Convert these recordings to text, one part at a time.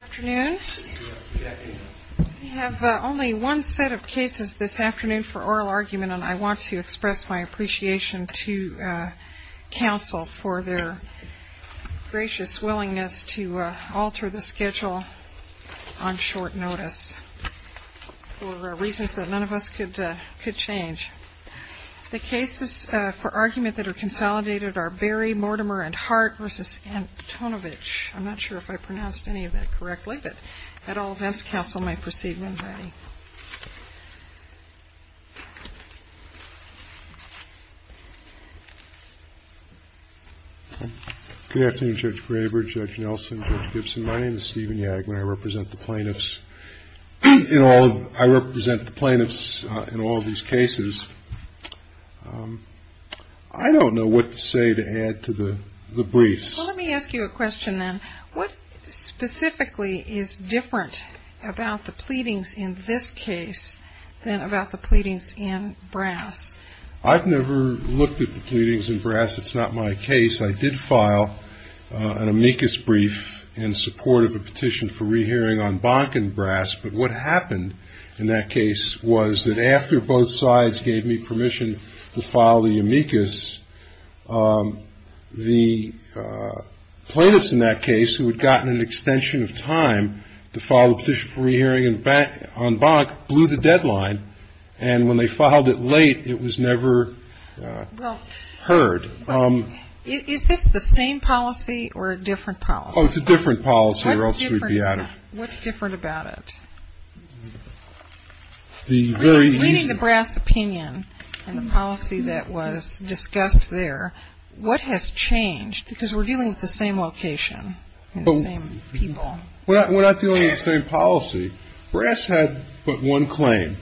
Good afternoon. We have only one set of cases this afternoon for oral argument, and I want to express my appreciation to counsel for their gracious willingness to alter the schedule on short notice for reasons that none of us could change. The cases for argument that are consolidated are Berry, Mortimer, and Hart v. Antonovich. I'm not sure if I pronounced any of that correctly, but at all events, counsel may proceed when ready. STEPHEN YAGMAN Good afternoon, Judge Graber, Judge Nelson, Judge Gibson. My name is Stephen Yagman. I represent the plaintiffs in all of these cases. I don't know what to say to add to the briefs. JUDGE GRABER Well, let me ask you a question then. What specifically is different about the pleadings in this case than about the pleadings in Brass? STEPHEN YAGMAN I've never looked at the pleadings in Brass. It's not my case. I did file an amicus brief in support of a petition for re-hearing on Bonken Brass, but what happened in that case was that after both sides gave me permission to file the amicus, the plaintiffs in that case who had gotten an extension of time to file the petition for re-hearing on Bonnock blew the deadline, and when they filed it late, it was never heard. JUDGE GRABER Is this the same policy or a different policy? STEPHEN YAGMAN Oh, it's a different policy, or else we'd be out of it. JUDGE GRABER What's different about it? STEPHEN YAGMAN Reading the Brass opinion and the policy that was discussed there, what has changed? Because we're dealing with the same location and the same people. STEPHEN YAGMAN We're not dealing with the same policy. Brass had but one claim,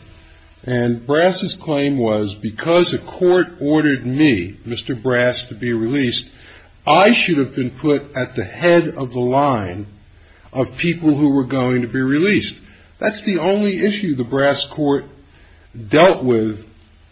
and Brass's claim was because a court ordered me, Mr. Brass, to be released, I should have been put at the head of the line of people who were going to be released. That's the only issue the Brass court dealt with.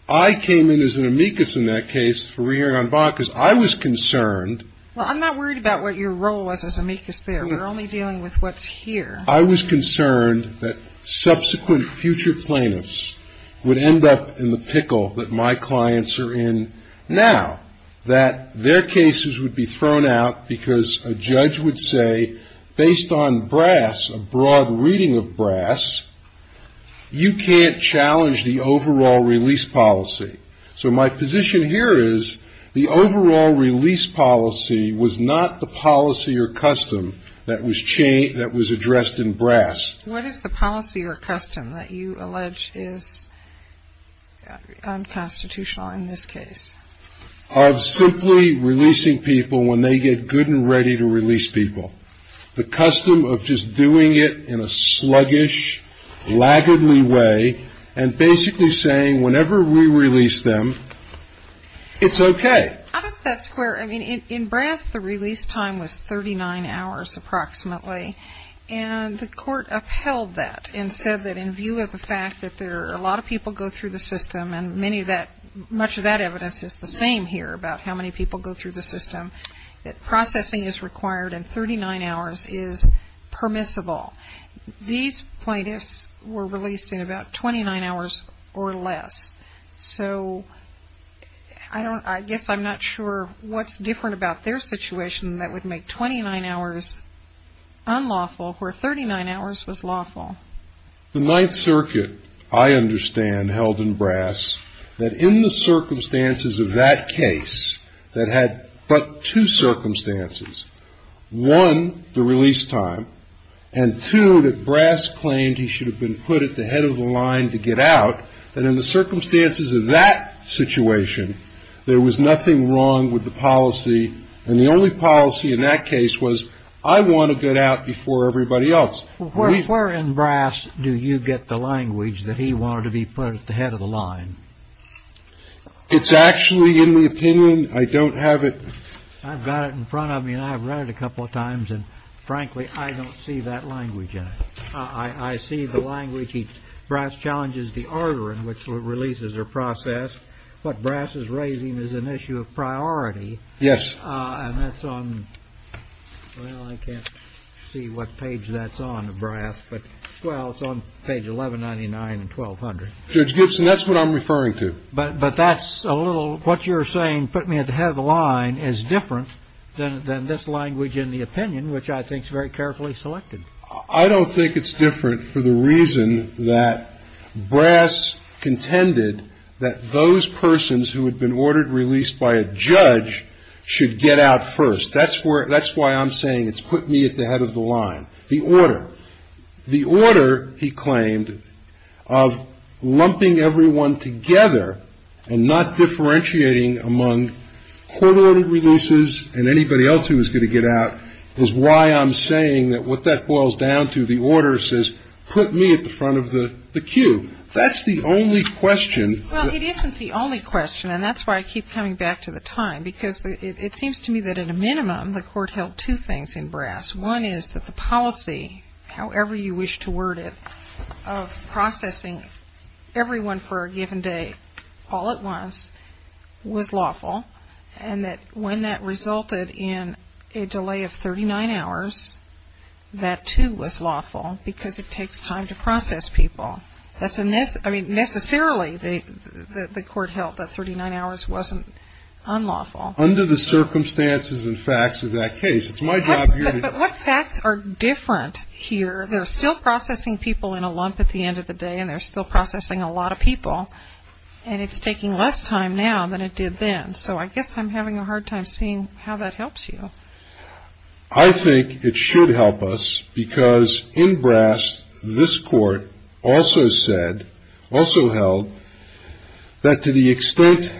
I came in as an amicus in that case for re-hearing on Bonnock because I was concerned... JUDGE GRABER Well, I'm not worried about what your role was as amicus there. We're only dealing with what's here. STEPHEN YAGMAN I was concerned that subsequent future plaintiffs would end up in the pickle that my clients are in now, that their cases would be thrown out because a judge would say based on Brass, a broad reading of Brass, you can't challenge the overall release policy. So my position here is the overall release policy was not the policy or custom that was addressed in Brass. JUDGE GRABER What is the policy or custom that you allege is unconstitutional in this STEPHEN YAGMAN I'm simply releasing people when they get good and ready to release people. The custom of just doing it in a sluggish, laggardly way and basically saying whenever we release them, it's okay. JUDGE GRABER How does that square? In Brass, the release time was 39 hours approximately and the court upheld that and said that in view of the fact that a lot of people go through the system and much of that evidence is the same here about how many people go through the system, that processing is required and 39 hours is permissible. These plaintiffs were released in about 29 hours or less. So I guess I'm not sure what's different about their situation that would make 29 hours unlawful where 39 hours was lawful. STEPHEN YAGMAN The Ninth Circuit, I understand, held in Brass that in the circumstances of that case that had but two circumstances, one, the release time, and two, that Brass claimed he should have been put at the head of the line to get out, that in the circumstances of that situation, there was nothing wrong with the policy and the only policy in that case was I want to get out before everybody else. JUDGE GRABER Where in Brass do you get the language that he wanted to be put at the head of the line? STEPHEN YAGMAN It's actually in the opinion. I don't have it. JUDGE GRABER I've got it in front of me and I've read it a couple of times and frankly, I don't see that language in it. I see the language. Brass challenges the order in which releases are processed. What Brass is raising is an issue of priority. STEPHEN YAGMAN Yes. JUDGE GRABER And that's on, well, I can't see what page that's on in Brass, but, well, it's on page 1199 and 1200. STEPHEN YAGMAN Judge Gibson, that's what I'm referring to. JUDGE GRABER But that's a little, what you're saying, put me at the head of the line, is very carefully selected. STEPHEN YAGMAN I don't think it's different for the reason that Brass contended that those persons who had been ordered released by a judge should get out first. That's where, that's why I'm saying it's put me at the head of the line. The order. The order, he claimed, of lumping everyone together and not differentiating among court-ordered releases and anybody else who was going to get out, is why I'm saying that what that boils down to, the order says, put me at the front of the queue. That's the only question. JUDGE GRABER Well, it isn't the only question, and that's why I keep coming back to the time, because it seems to me that, at a minimum, the Court held two things in Brass. One is that the policy, however you wish to word it, of processing everyone for a given day, all at once, was lawful, and that when that resulted in a delay of 39 hours, that too was lawful, because it takes time to process people. That's a, I mean, necessarily, the Court held that 39 hours wasn't unlawful. STEPHEN YAGMAN Under the circumstances and facts of that case, it's my job here to... JUDGE GRABER But what facts are different here? They're still processing people in a way, and it's taking less time now than it did then, so I guess I'm having a hard time seeing how that helps you. STEPHEN YAGMAN I think it should help us, because in Brass, this Court also said, also held, that to the extent,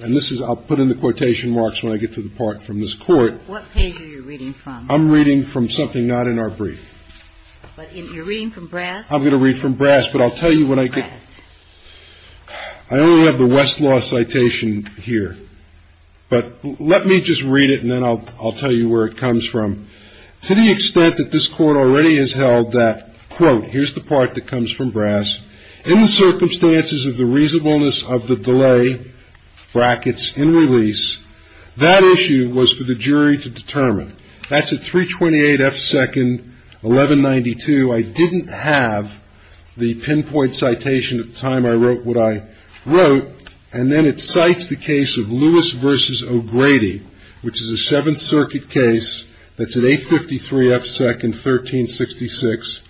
and this is, I'll put in the quotation marks when I get to the part from this Court... JUDGE GRABER What page are you reading from? STEPHEN YAGMAN I'm reading from something not in our brief. JUDGE GRABER But you're reading from Brass? STEPHEN YAGMAN But I'll tell you when I get... STEPHEN YAGMAN I only have the Westlaw citation here, but let me just read it, and then I'll tell you where it comes from. To the extent that this Court already has held that, quote, here's the part that comes from Brass, in the circumstances of the reasonableness of the delay, brackets, in release, that issue was for the jury to determine. That's at 328 F. 2nd, 1192. I didn't have the pinpoint citation at the time I wrote what I wrote, and then it cites the case of Lewis v. O'Grady, which is a Seventh Circuit case that's at 853 F. 2nd, 1366,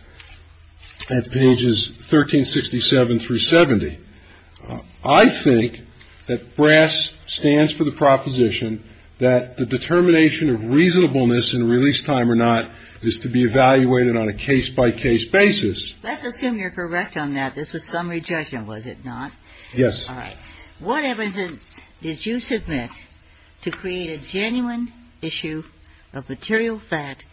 at pages 1367 through 70. I think that Brass stands for the proposition that the determination of reasonableness in release time or not is to be evaluated on a case-by-case basis. GINSBURG Let's assume you're correct on that. This was summary judgment, was it not? STEPHEN YAGMAN Yes. GINSBURG All right. What evidence did you submit to create a genuine issue of material fact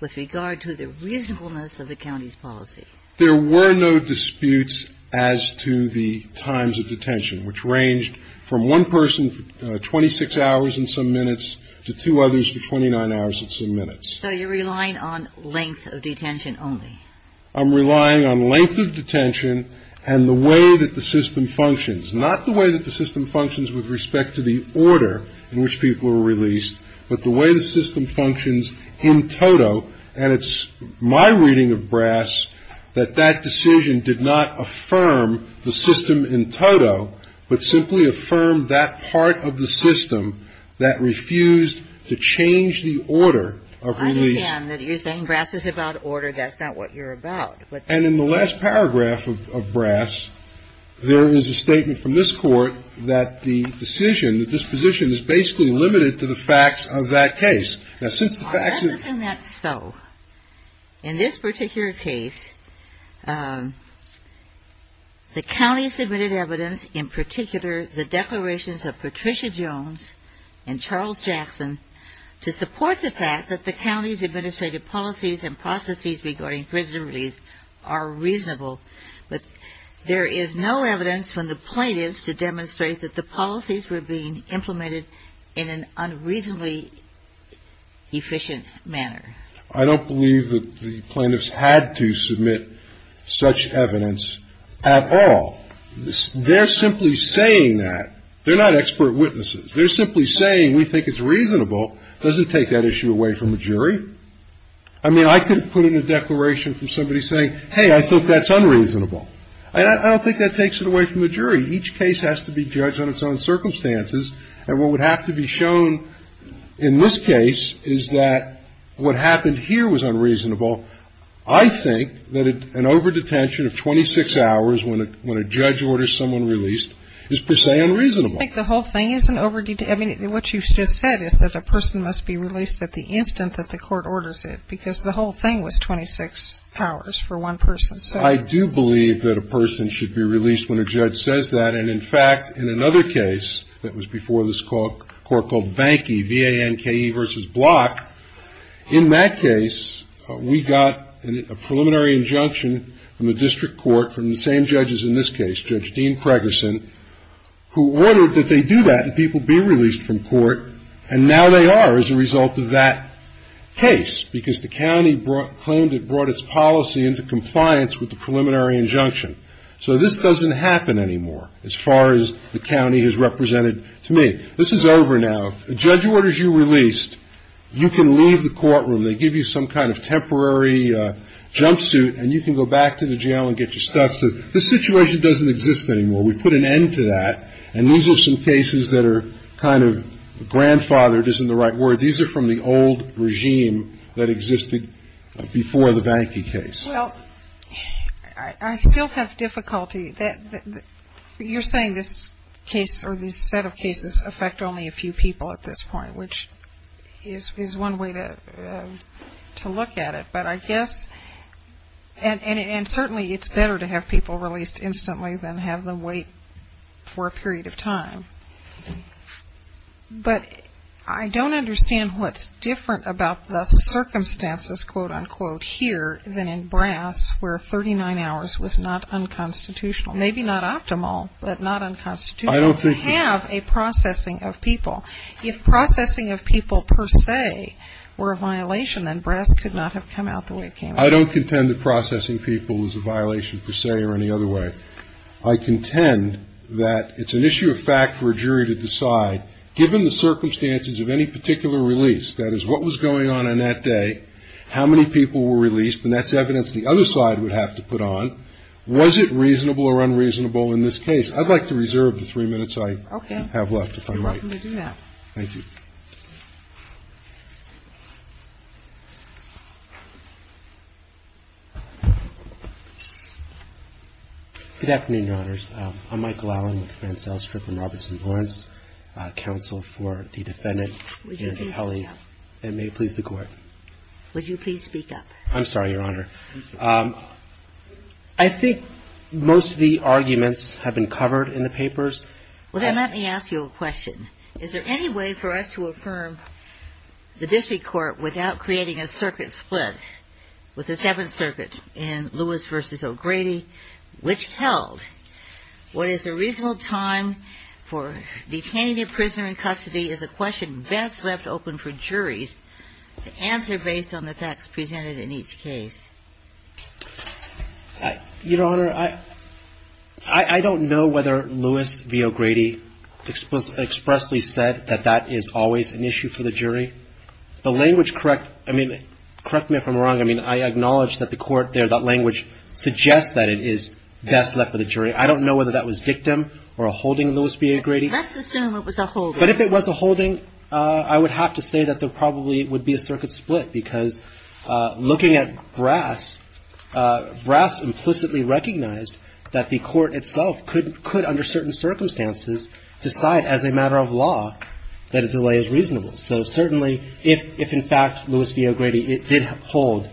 with regard to the reasonableness of the county's policy? STEPHEN YAGMAN There were no disputes as to the times of detention, which ranged from one person for 26 hours and some minutes to two others for 29 hours and some minutes. GINSBURG So you're relying on length of detention only. STEPHEN YAGMAN I'm relying on length of detention and the way that the system functions, not the way that the system functions with respect to the order in which people were released, but the way the system functions in toto. And it's my reading of Brass that that decision did not affirm the system in toto, but simply affirmed that part of the system that refused to change the order of release. GINSBURG I understand that you're saying Brass is about order. That's not what you're about. STEPHEN YAGMAN And in the last paragraph of Brass, there is a statement from this Court that the decision, that this position is basically limited to the facts of that case. The county submitted evidence, in particular the declarations of Patricia Jones and Charles Jackson, to support the fact that the county's administrative policies and processes regarding prison release are reasonable. But there is no evidence from the plaintiffs to demonstrate that the policies were being implemented in an unreasonably efficient manner. I don't believe that the plaintiffs had to submit such evidence at all. They're simply saying that. They're not expert witnesses. They're simply saying we think it's reasonable. Doesn't take that issue away from a jury. I mean, I could put in a declaration from somebody saying, hey, I think that's unreasonable. I don't think that takes it away from a jury. Each case has to be judged on its own circumstances. And what would have to be shown in this case is that what happened here was unreasonable. I think that an overdetention of 26 hours when a judge orders someone released is per se unreasonable. PATRICIA JONES I think the whole thing is an overdetention. I mean, what you just said is that a person must be released at the instant that the court orders it, because the whole thing was 26 hours for one person. STEPHEN YAGMAN I do believe that a person should be released when a judge says that. And, in fact, in another case that was before this court called Vanki, V-A-N-K-E versus Block, in that case, we got a preliminary injunction from the district court from the same judges in this case, Judge Dean Pregerson, who ordered that they do that and people be released from court. And now they are as a result of that case, because the county claimed it brought its policy into compliance with the me. This is over now. If a judge orders you released, you can leave the courtroom. They give you some kind of temporary jumpsuit, and you can go back to the jail and get your stuff. So this situation doesn't exist anymore. We put an end to that. And these are some cases that are kind of grandfathered, isn't the right word. These are from the old regime that existed before the Vanki case. Well, I still have difficulty that you're saying this case or this set of cases affect only a few people at this point, which is one way to look at it. But I guess and certainly it's better to have people released instantly than have them wait for a period of time. But I don't understand what's different about the circumstances, quote unquote, here than in Brass where 39 hours was not unconstitutional. Maybe not optimal, but not unconstitutional to have a processing of people. If processing of people per se were a violation, then Brass could not have come out the way it came out. I don't contend that processing people is a violation per se or any other way. I contend that it's an issue of fact for a jury to decide, given the circumstances of any particular release, that is, what was going on on that day, how many people were released, and that's evidence the other side would have to put on, was it reasonable or unreasonable in this case? I'd like to reserve the three minutes I have left, if I might. Thank you. Good afternoon, Your Honors. I'm Michael Allen with Mancel Strip and Robertson Lawrence, counsel for the defendant, Anna Kelly. And may it please the Court. Would you please speak up? I'm sorry, Your Honor. I think most of the arguments have been covered in the papers. Well, then let me ask you a question. Is there any way for us to affirm the District Court without creating a circuit split with the Seventh Circuit in Lewis v. O'Grady, which held what is a reasonable time for detaining a prisoner in custody is a question best left open for juries to answer based on the facts presented in each case? Your Honor, I don't know whether Lewis v. O'Grady expressly said that that is always an issue for the jury. The language correct, I mean, correct me if I'm wrong, I mean, I acknowledge that the Court there, that language suggests that it is best left for the jury. I don't know whether that was dictum or a holding, Lewis v. O'Grady. Let's assume it was a holding. But if it was a holding, I would have to say that there probably would be a circuit split because looking at Brass, Brass implicitly recognized that the Court itself could, under certain circumstances, decide as a matter of law that a delay is reasonable. So certainly if, in fact, Lewis v. O'Grady did hold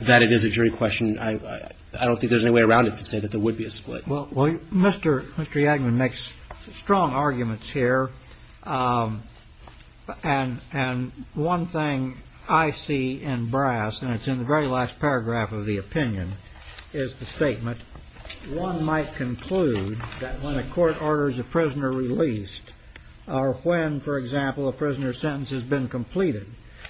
that it is a jury question, I don't think there's any way around it to say that there would be a split. Well, Mr. Yagman makes strong arguments here. And one thing I see in Brass, and it's in the very last paragraph of the opinion, is the statement, one might conclude that when a court orders a prisoner released or when, for example, a prisoner's sentence has been completed,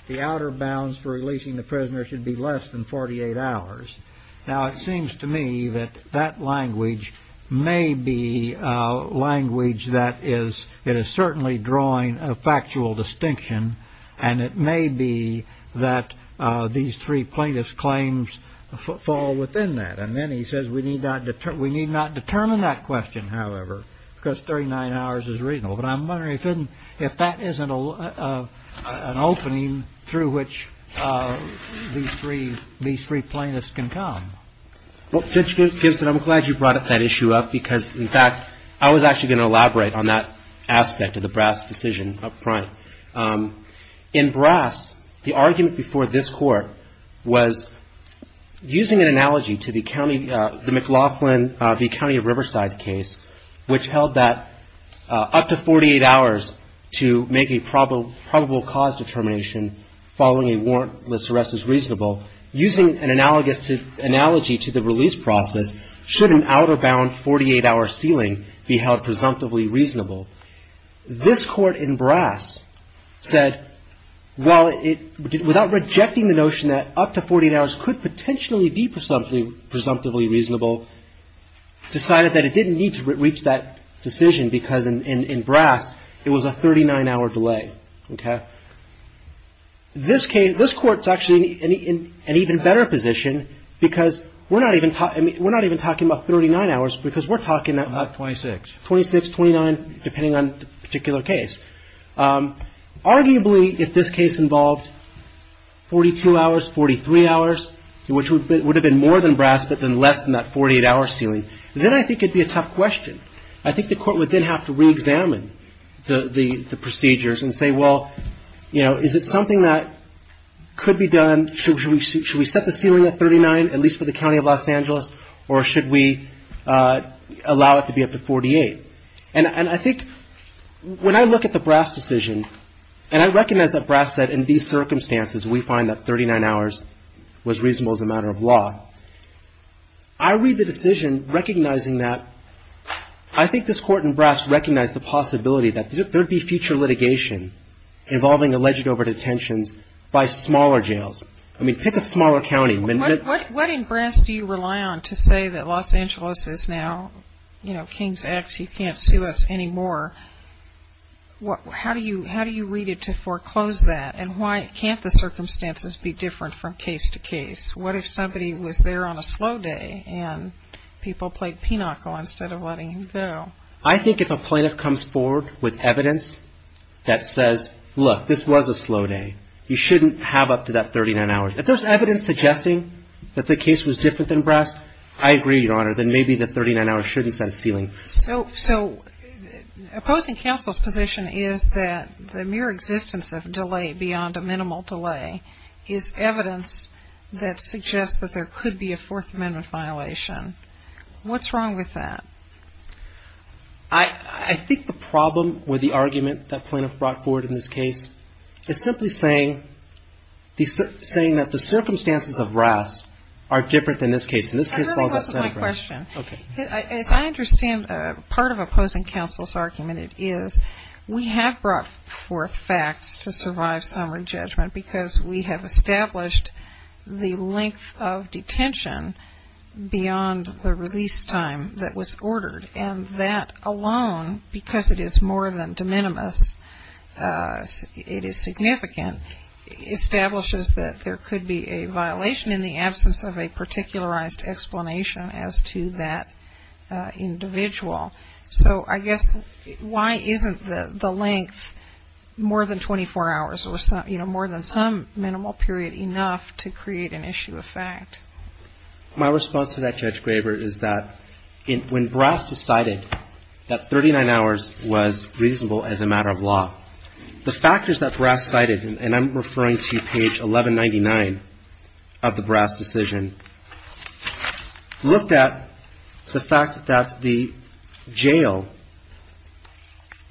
the outer bounds for releasing the prisoner should be less than 48 hours. Now, it seems to me that that language may be language that is certainly drawing a factual distinction, and it may be that these three plaintiffs' claims fall within that. And then he says we need not determine that question, however, because 39 hours is reasonable. But I'm wondering if that isn't an opening through which these three plaintiffs can come. Well, Judge Gibson, I'm glad you brought that issue up because, in fact, I was actually going to elaborate on that aspect of the Brass decision up front. In Brass, the argument before this Court was using an analogy to the McLaughlin v. County of Riverside case, which held that up to 48 hours to make a probable cause determination following a warrantless arrest is reasonable, using an analogy to the release process, should an outer bound 48-hour sealing be held presumptively reasonable. This Court in Brass said, well, without rejecting the notion that up to 48 hours could potentially be presumptively reasonable, decided that it didn't need to reach that decision because in Brass it was a 39-hour delay. This case, this Court's actually in an even better position because we're not even talking about 39 hours because we're talking about 26, 29, depending on the particular case. Arguably, if this case involved 42 hours, 43 hours, which would have been more than Brass but then less than that 48-hour sealing, then I think it would be a tough question. I think the Court would then have to reexamine the procedures and say, well, you know, is it something that could be done, should we set the sealing at 39 at least for the County of Los Angeles, or should we allow it to be up to 48? And I think when I look at the Brass decision, and I recognize that Brass said in these circumstances we find that 39 hours was reasonable as a matter of law, I read the decision and I recognize that. I think this Court in Brass recognized the possibility that there would be future litigation involving alleged overdetentions by smaller jails. I mean, pick a smaller county. What in Brass do you rely on to say that Los Angeles is now, you know, King's X, you can't sue us anymore? How do you read it to foreclose that, and why can't the circumstances be that people played pinnacle instead of letting him go? I think if a plaintiff comes forward with evidence that says, look, this was a slow day, you shouldn't have up to that 39 hours. If there's evidence suggesting that the case was different than Brass, I agree, Your Honor, then maybe the 39 hours shouldn't set a ceiling. So opposing counsel's position is that the mere existence of delay beyond a minimal delay is evidence that suggests that there could be a Fourth Amendment violation. What's wrong with that? I think the problem with the argument that plaintiff brought forward in this case is simply saying that the circumstances of Brass are different than this case. And let me close with one question. As I understand part of opposing counsel's argument, it is that we have brought forth facts to survive summary judgment because we have established the length of detention beyond the release time that was ordered. And that alone, because it is more than de minimis, it is significant, establishes that there could be a violation in the absence of a particularized explanation as to that individual. So I guess why isn't the length more than 24 hours or more than some minimal period enough to create an issue of fact? My response to that, Judge Graber, is that when Brass decided that 39 hours was reasonable as a matter of law, the factors that Brass cited, and I'm referring to page 1199 of the Brass decision, looked at the jail,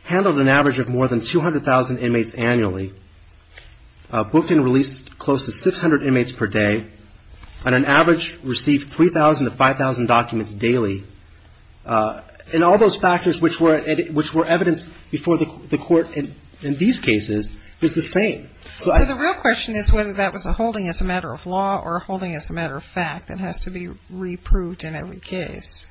handled an average of more than 200,000 inmates annually, booked and released close to 600 inmates per day, on an average received 3,000 to 5,000 documents daily. And all those factors which were evidenced before the Court in these cases is the same. So the real question is whether that was a holding as a matter of law or a holding as a matter of fact that has to be reproved in every case.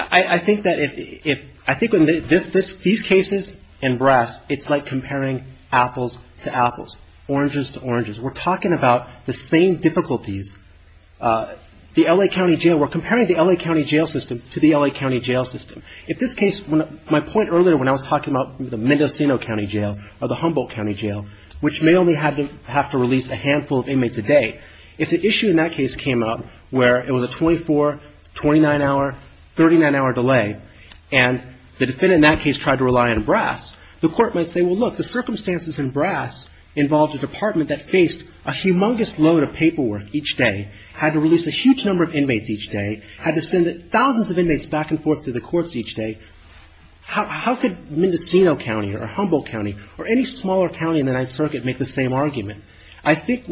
I think that if these cases and Brass, it's like comparing apples to apples, oranges to oranges. We're talking about the same difficulties. The L.A. County Jail, we're comparing the L.A. County Jail system to the L.A. County Jail system. If this case, my point earlier when I was talking about the Mendocino County Jail or the Humboldt County Jail, which may only have to release a handful of inmates a day, if the issue in that case came up where the 24, 29-hour, 39-hour delay and the defendant in that case tried to rely on Brass, the Court might say, well, look, the circumstances in Brass involved a department that faced a humongous load of paperwork each day, had to release a huge number of inmates each day, had to send thousands of inmates back and forth to the courts each day. How could Mendocino County or Humboldt County or any smaller county in the Ninth Circuit make the same argument? I think,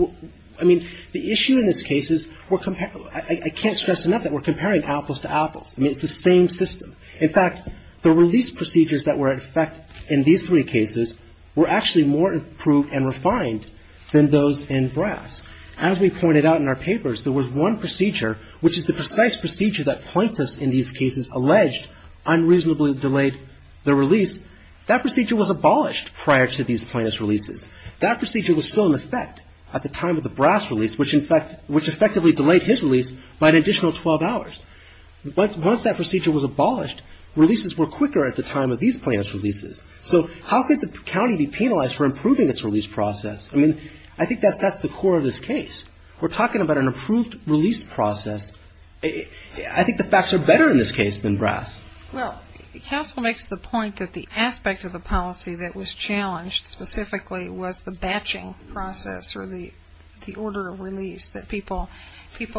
I mean, the issue in this case is we're comparing, I can't stress enough that we're comparing apples to apples. I mean, it's the same system. In fact, the release procedures that were in effect in these three cases were actually more improved and refined than those in Brass. As we pointed out in our papers, there was one procedure, which is the precise procedure that plaintiffs in these cases alleged unreasonably delayed the release. That procedure was abolished prior to these plaintiffs' releases. That procedure was still in effect at the time of the Brass release, which in fact, which effectively delayed his release by an additional 12 hours. But once that procedure was abolished, releases were quicker at the time of these plaintiffs' releases. So how could the county be penalized for improving its release process? I mean, I think that's the core of this case. We're talking about an improved release process. I think the facts are better in this case than Brass. The other aspect of this case specifically was the batching process or the order of release, that people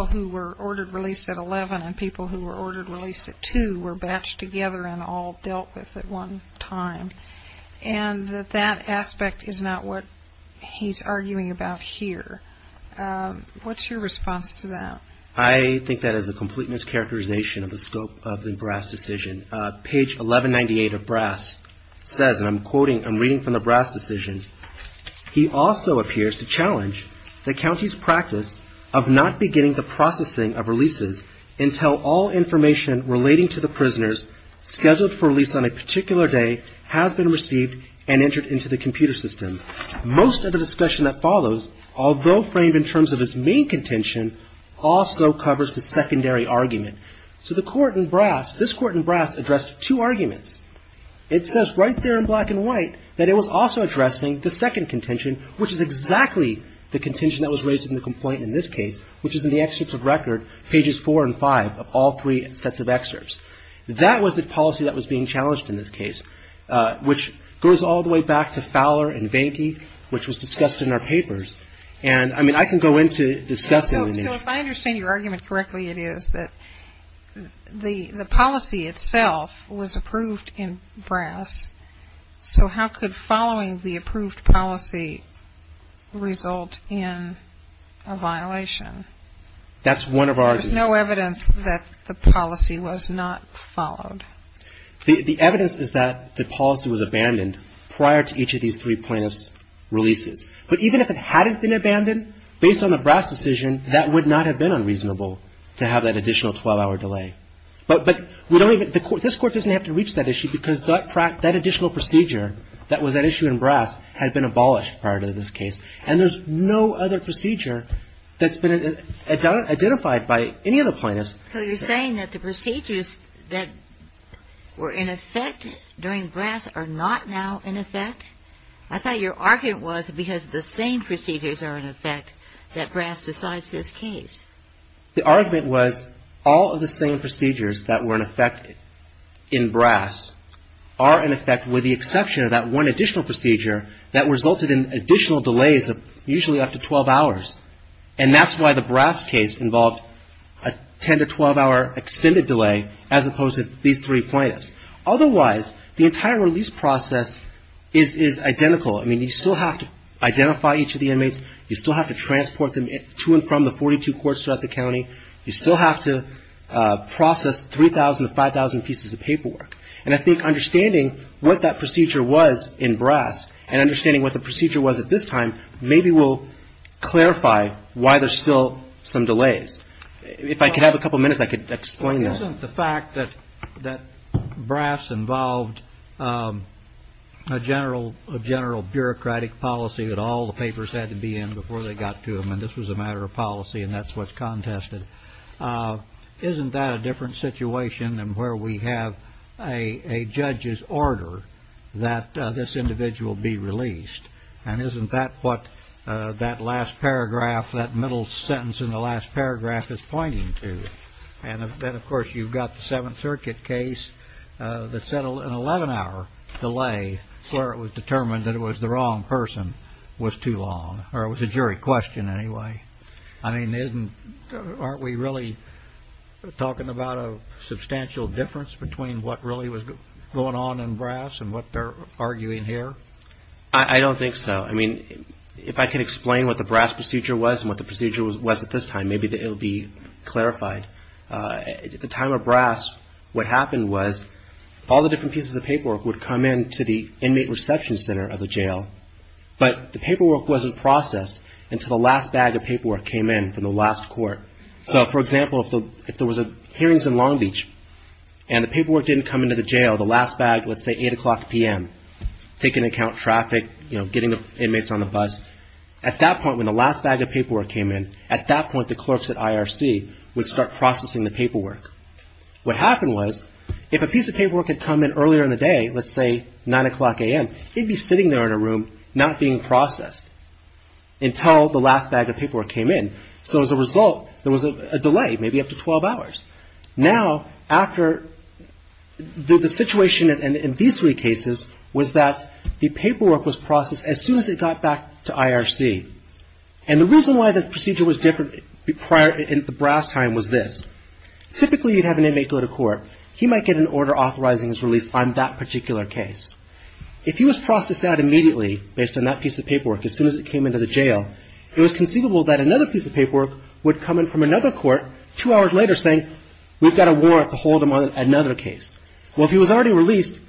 who were ordered released at 11 and people who were ordered released at 2 were batched together and all dealt with at one time. And that that aspect is not what he's arguing about here. What's your response to that? I think that is a complete mischaracterization of the scope of the Brass decision. Page 1198 of Brass says, and I'm quoting, I'm reading from the Brass decision, he also appears to challenge the county's practice of not beginning the processing of releases until all information relating to the prisoners scheduled for release on a particular day has been received and entered into the computer system. Most of the discussion that follows, although framed in terms of his main contention, also covers the secondary argument. So the court in Brass, this court in Brass addressed two arguments. It says right there in black and white that it was also addressing the second contention, which is exactly the contention that was raised in the complaint in this case, which is in the excerpts of record, pages 4 and 5 of all three sets of excerpts. That was the policy that was being challenged in this case, which goes all the way back to Fowler and Vanke, which was discussed in our papers. And, I mean, I can go into discussing the name. So if I understand your argument correctly, it is that the policy itself was approved in Brass, so how could following the approved policy result in a violation? That's one of our... There's no evidence that the policy was not followed. The evidence is that the policy was abandoned prior to each of these three plaintiffs' releases. But even if it hadn't been abandoned, based on the Brass decision, that would not have been unreasonable to have that additional 12-hour delay. But we don't even... This court doesn't have to reach that issue because that additional procedure that was at issue in Brass had been abolished prior to this case, and there's no other procedure that's been identified by any of the plaintiffs that were in effect during Brass are not now in effect. I thought your argument was because the same procedures are in effect that Brass decides this case. The argument was all of the same procedures that were in effect in Brass are in effect with the exception of that one additional procedure that resulted in additional delays of usually up to 12 hours. And that's why the Brass case involved a 10- to 12-hour extended delay as opposed to these three plaintiffs. Otherwise, the entire release process is identical. You still have to identify each of the inmates, you still have to transport them to and from the 42 courts throughout the county, you still have to process 3,000 to 5,000 pieces of paperwork. And I think understanding what that procedure was in Brass, and understanding what the procedure was at this time, maybe will clarify why there's still some delays. If I could have a couple minutes, I could explain that. Isn't the fact that Brass involved a general bureaucratic policy that all the papers had to be in before they got to him, and this was a matter of policy and that's what's contested, isn't that a different situation than where we have a judge's order that this individual be released, and isn't that what that last paragraph, that middle sentence in the last paragraph is pointing to? And then, of course, you've got the Seventh Circuit case that settled an 11-hour delay where it was determined that it was the wrong person was too long, or it was a jury question anyway. I mean, aren't we really talking about a substantial difference between what really was going on in Brass and what their arguments were? I don't think so. I mean, if I could explain what the Brass procedure was and what the procedure was at this time, maybe it would be clarified. At the time of Brass, what happened was all the different pieces of paperwork would come in to the inmate reception center of the jail, but the paperwork wasn't processed until the last bag of paperwork came in from the last court. So, for example, if there was a hearings in Long Beach and the paperwork didn't come into the jail, the last bag, let's say 8 o'clock p.m., taking into account traffic, getting inmates on the bus, at that point when the last bag of paperwork came in, at that point the clerks at IRC would start processing the paperwork. What happened was if a piece of paperwork had come in earlier in the day, let's say 9 o'clock a.m., it would be sitting there in a room not being processed until the last bag of paperwork came in. So, as a result, there was a delay, maybe up to 12 hours. Now, after the situation in these three cases was that the paperwork was processed as soon as it got back to IRC, and the reason why the procedure was different prior in the Brass time was this. Typically, you'd have an inmate go to court. He might get an order authorizing his release on that particular case. If he was processed out immediately based on that piece of paperwork as soon as it came into the jail, it was conceivable that another piece of paperwork would come in from another court two hours later saying, we've got a warrant to hold him on another case. Well, if he was already released,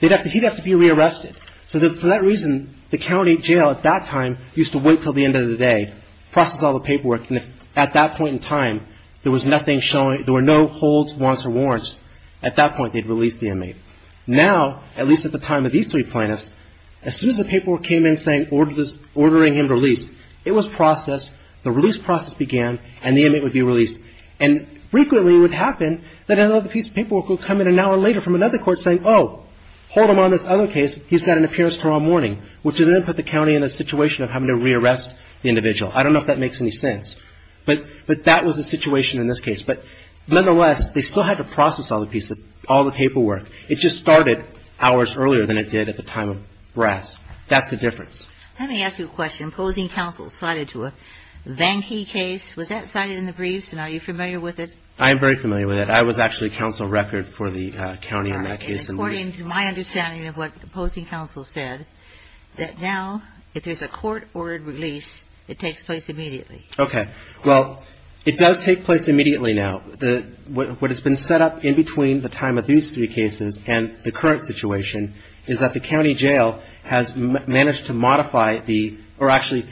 he'd have to be rearrested. So for that reason, the county jail at that time used to wait until the end of the day, process all the paperwork, and at that point in time, there was nothing showing, there were no holds, wants, or warrants. At that point, they'd release the inmate. Now, at least at the time of these three plaintiffs, as soon as the paperwork came in saying ordering him released, it was processed, the release process began, and the inmate would be released. And frequently it would happen that another piece of paperwork would come in an hour later from another court saying, oh, hold him on this other case, he's got an appearance tomorrow morning, which would then put the county in a situation of having to rearrest the individual. I don't know if that makes any sense. But that was the situation in this case. But nonetheless, they still had to process all the paperwork. It just started hours earlier than it did at the time of Bras. That's the difference. Let me ask you a question. Opposing counsel cited to a Vanki case. Was that cited in the briefs, and are you familiar with it? I am very familiar with it. I was actually counsel record for the county in that case. According to my understanding of what opposing counsel said, that now if there's a court ordered release, it takes place immediately. Okay. Well, it does take place immediately now. What has been set up in between the time of these three cases and the current situation is that the county jail has managed to modify the or actually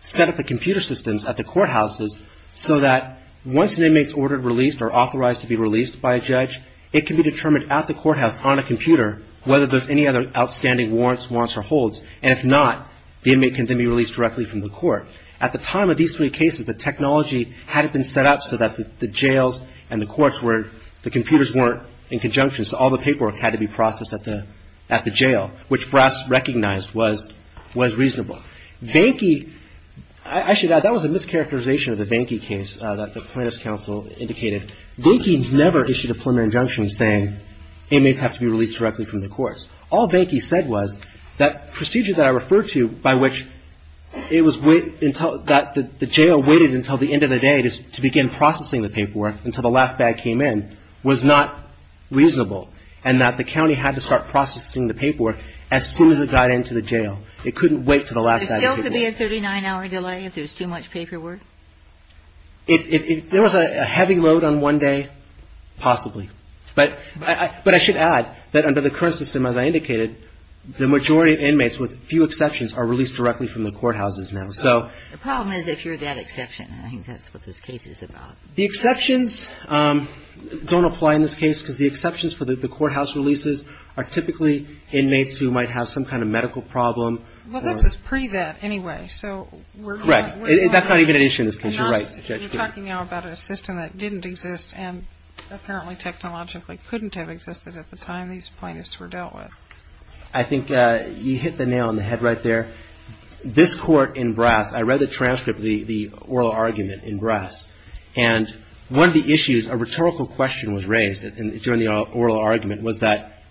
set up the computer systems at the courthouses so that once an inmate is ordered released or authorized to be released by a judge, it can be determined at the courthouse on a computer whether there's any other outstanding warrants, warrants or holds. And if not, the inmate can then be released directly from the court. At the time of these three cases, the technology hadn't been set up so that the jails and the courts were, the computers weren't in conjunction, so all the paperwork had to be processed at the jail, which Brass recognized was reasonable. Actually, that was a mischaracterization of the Vanki case that the plaintiff's counsel indicated. Vanki never issued a preliminary injunction saying inmates have to be released directly from the courts. All Vanki said was that procedure that I referred to by which it was until that the jail waited until the end of the day to begin processing the paperwork until the last bag came in was not reasonable and that the county had to start processing the paperwork as soon as it got into the jail. It couldn't wait until the last bag came in. It still could be a 39-hour delay if there's too much paperwork? There was a heavy load on one day, possibly. But I should add that under the current system, as I indicated, the majority of inmates, with few exceptions, are released directly from the courthouses now. The problem is if you're that exception. I think that's what this case is about. The exceptions don't apply in this case because the exceptions for the courthouse releases are typically inmates who might have some kind of medical problem. Well, this is pre-that anyway, so we're talking now about a system that didn't exist and apparently technologically couldn't have existed at the time these plaintiffs were dealt with. I think you hit the nail on the head right there. This court in Brass, I read the transcript of the oral argument in Brass, and one of the issues, a rhetorical question was raised during the oral argument was that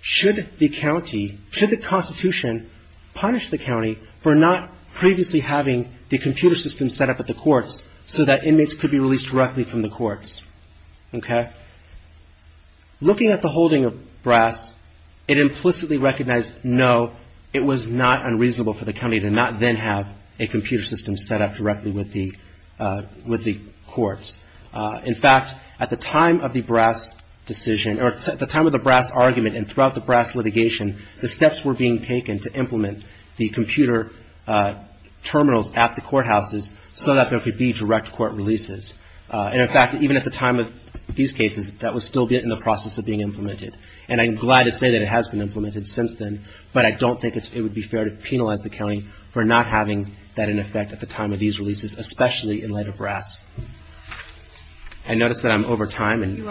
should the county, should the Constitution punish the county for not previously having the computer system set up at the courts so that inmates could be released directly from the courts? Looking at the holding of Brass, it implicitly recognized, no, it was not unreasonable for the county to not then have a computer system set up directly with the courts. In fact, at the time of the Brass decision, or at the time of the Brass argument and throughout the Brass litigation, the steps were being taken to implement the computer terminals at the courthouses so that there could be direct court releases. And in fact, even at the time of these cases, that was still in the process of being implemented. And I'm glad to say that it has been implemented since then, but I don't think it would be fair to penalize the county for not having that in effect at the time of these releases, especially in light of Brass. I notice that I'm over time. Thank you.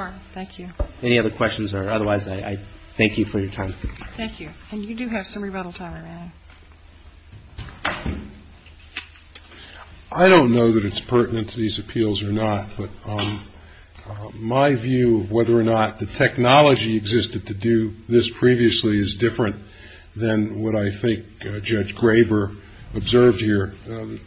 I don't know that it's pertinent to these appeals or not, but my view of whether or not the technology existed to do this previously is different than what I think Judge Graver observed here.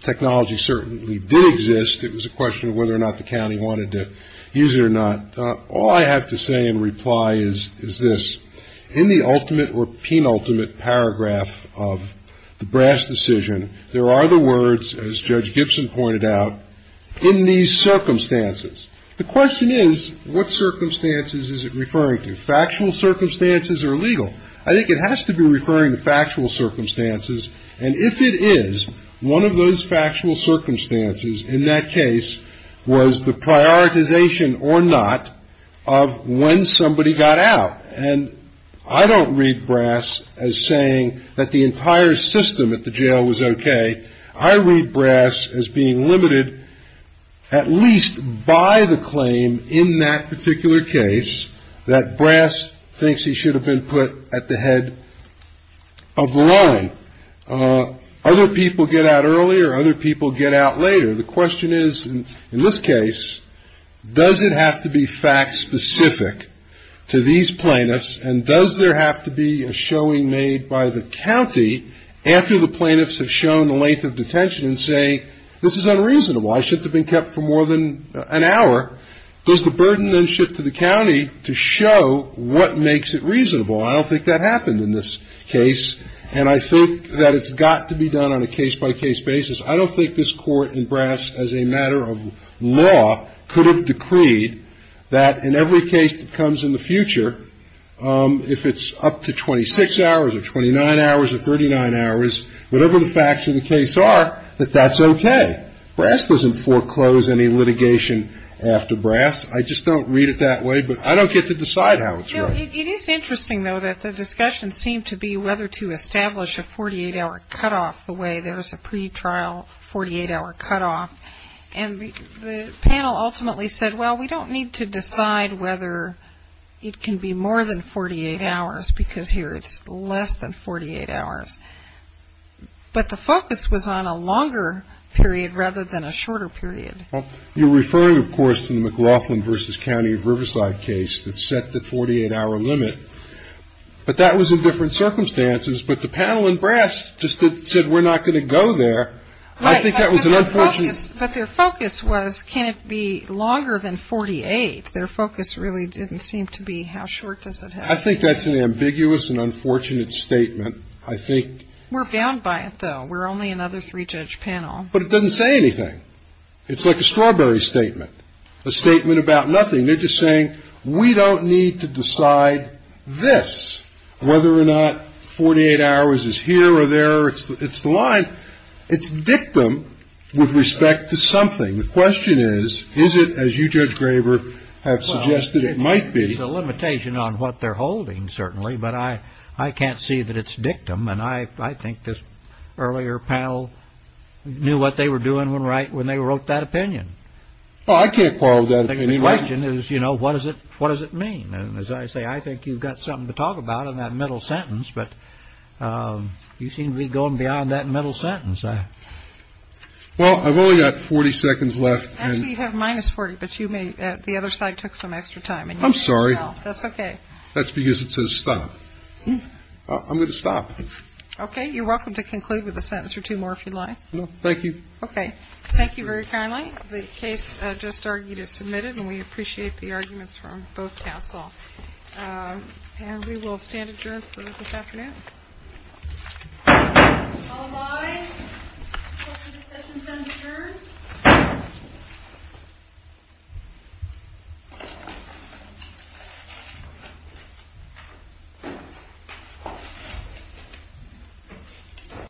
Technology certainly did exist. It was a question of whether or not the county wanted to use it or not. All I have to say in reply is this. In the ultimate or penultimate paragraph of the Brass decision, there are the words, as Judge Gibson pointed out, in these circumstances. The question is, what circumstances is it referring to? Factual circumstances or legal? I think it has to be referring to factual circumstances, and if it is, one of those factual circumstances in that case was the prioritization or not of when somebody got out. And I don't read Brass as saying that the entire system at the jail was okay. I read Brass as being limited at least by the claim in that particular case that Brass thinks he should have been put at the head of line. Other people get out earlier, other people get out later. The question is, in this case, does it have to be fact-specific to these plaintiffs, and does there have to be a showing made by the county after the plaintiffs have shown the length of detention and say, this is unreasonable, I should have been kept for more than an hour? Does the burden then shift to the county to show what makes it reasonable? I don't think that happened in this case, and I think that it's got to be done on a case-by-case basis. I don't think this Court in Brass, as a matter of law, could have decreed that in every case that comes in the future, if it's up to 26 hours or 29 hours or 39 hours, whatever the facts of the case are, that that's okay. Brass doesn't foreclose any litigation after Brass. I just don't read it that way, but I don't get to decide how it's read. It is interesting, though, that the discussion seemed to be whether to establish a 48-hour cutoff the way there's a pretrial 48-hour cutoff, and the panel ultimately said, well, we don't need to decide whether it can be more than 48 hours, because here it's less than 48 hours. But the focus was on a longer period rather than a shorter period. Well, you're referring, of course, to the McLaughlin v. County of Riverside case that set the 48-hour limit, but that was in different circumstances. But the panel in Brass just said, we're not going to go there. Right, but their focus was, can it be longer than 48? Their focus really didn't seem to be how short does it have to be. I think that's an ambiguous and unfortunate statement, I think. We're bound by it, though. We're only another three-judge panel. But it doesn't say anything. It's like a strawberry statement, a statement about nothing. They're just saying, we don't need to decide this, whether or not 48 hours is here or there. It's the line. It's dictum with respect to something. The question is, is it, as you, Judge Graber, have suggested it might be. Well, there's a limitation on what they're holding, certainly, but I can't see that it's dictum. And I think this earlier panel knew what they were doing when they wrote that opinion. Well, I can't quarrel with that opinion. The question is, you know, what does it mean? And as I say, I think you've got something to talk about in that middle sentence, but you seem to be going beyond that middle sentence. Well, I've only got 40 seconds left. Actually, you have minus 40, but the other side took some extra time. I'm sorry. That's okay. That's because it says stop. I'm going to stop. Okay. You're welcome to conclude with a sentence or two more if you'd like. Thank you. Okay. Thank you very kindly. The case just argued is submitted, and we appreciate the arguments from both counsel. And we will stand adjourned for this afternoon. All rise. The session is adjourned.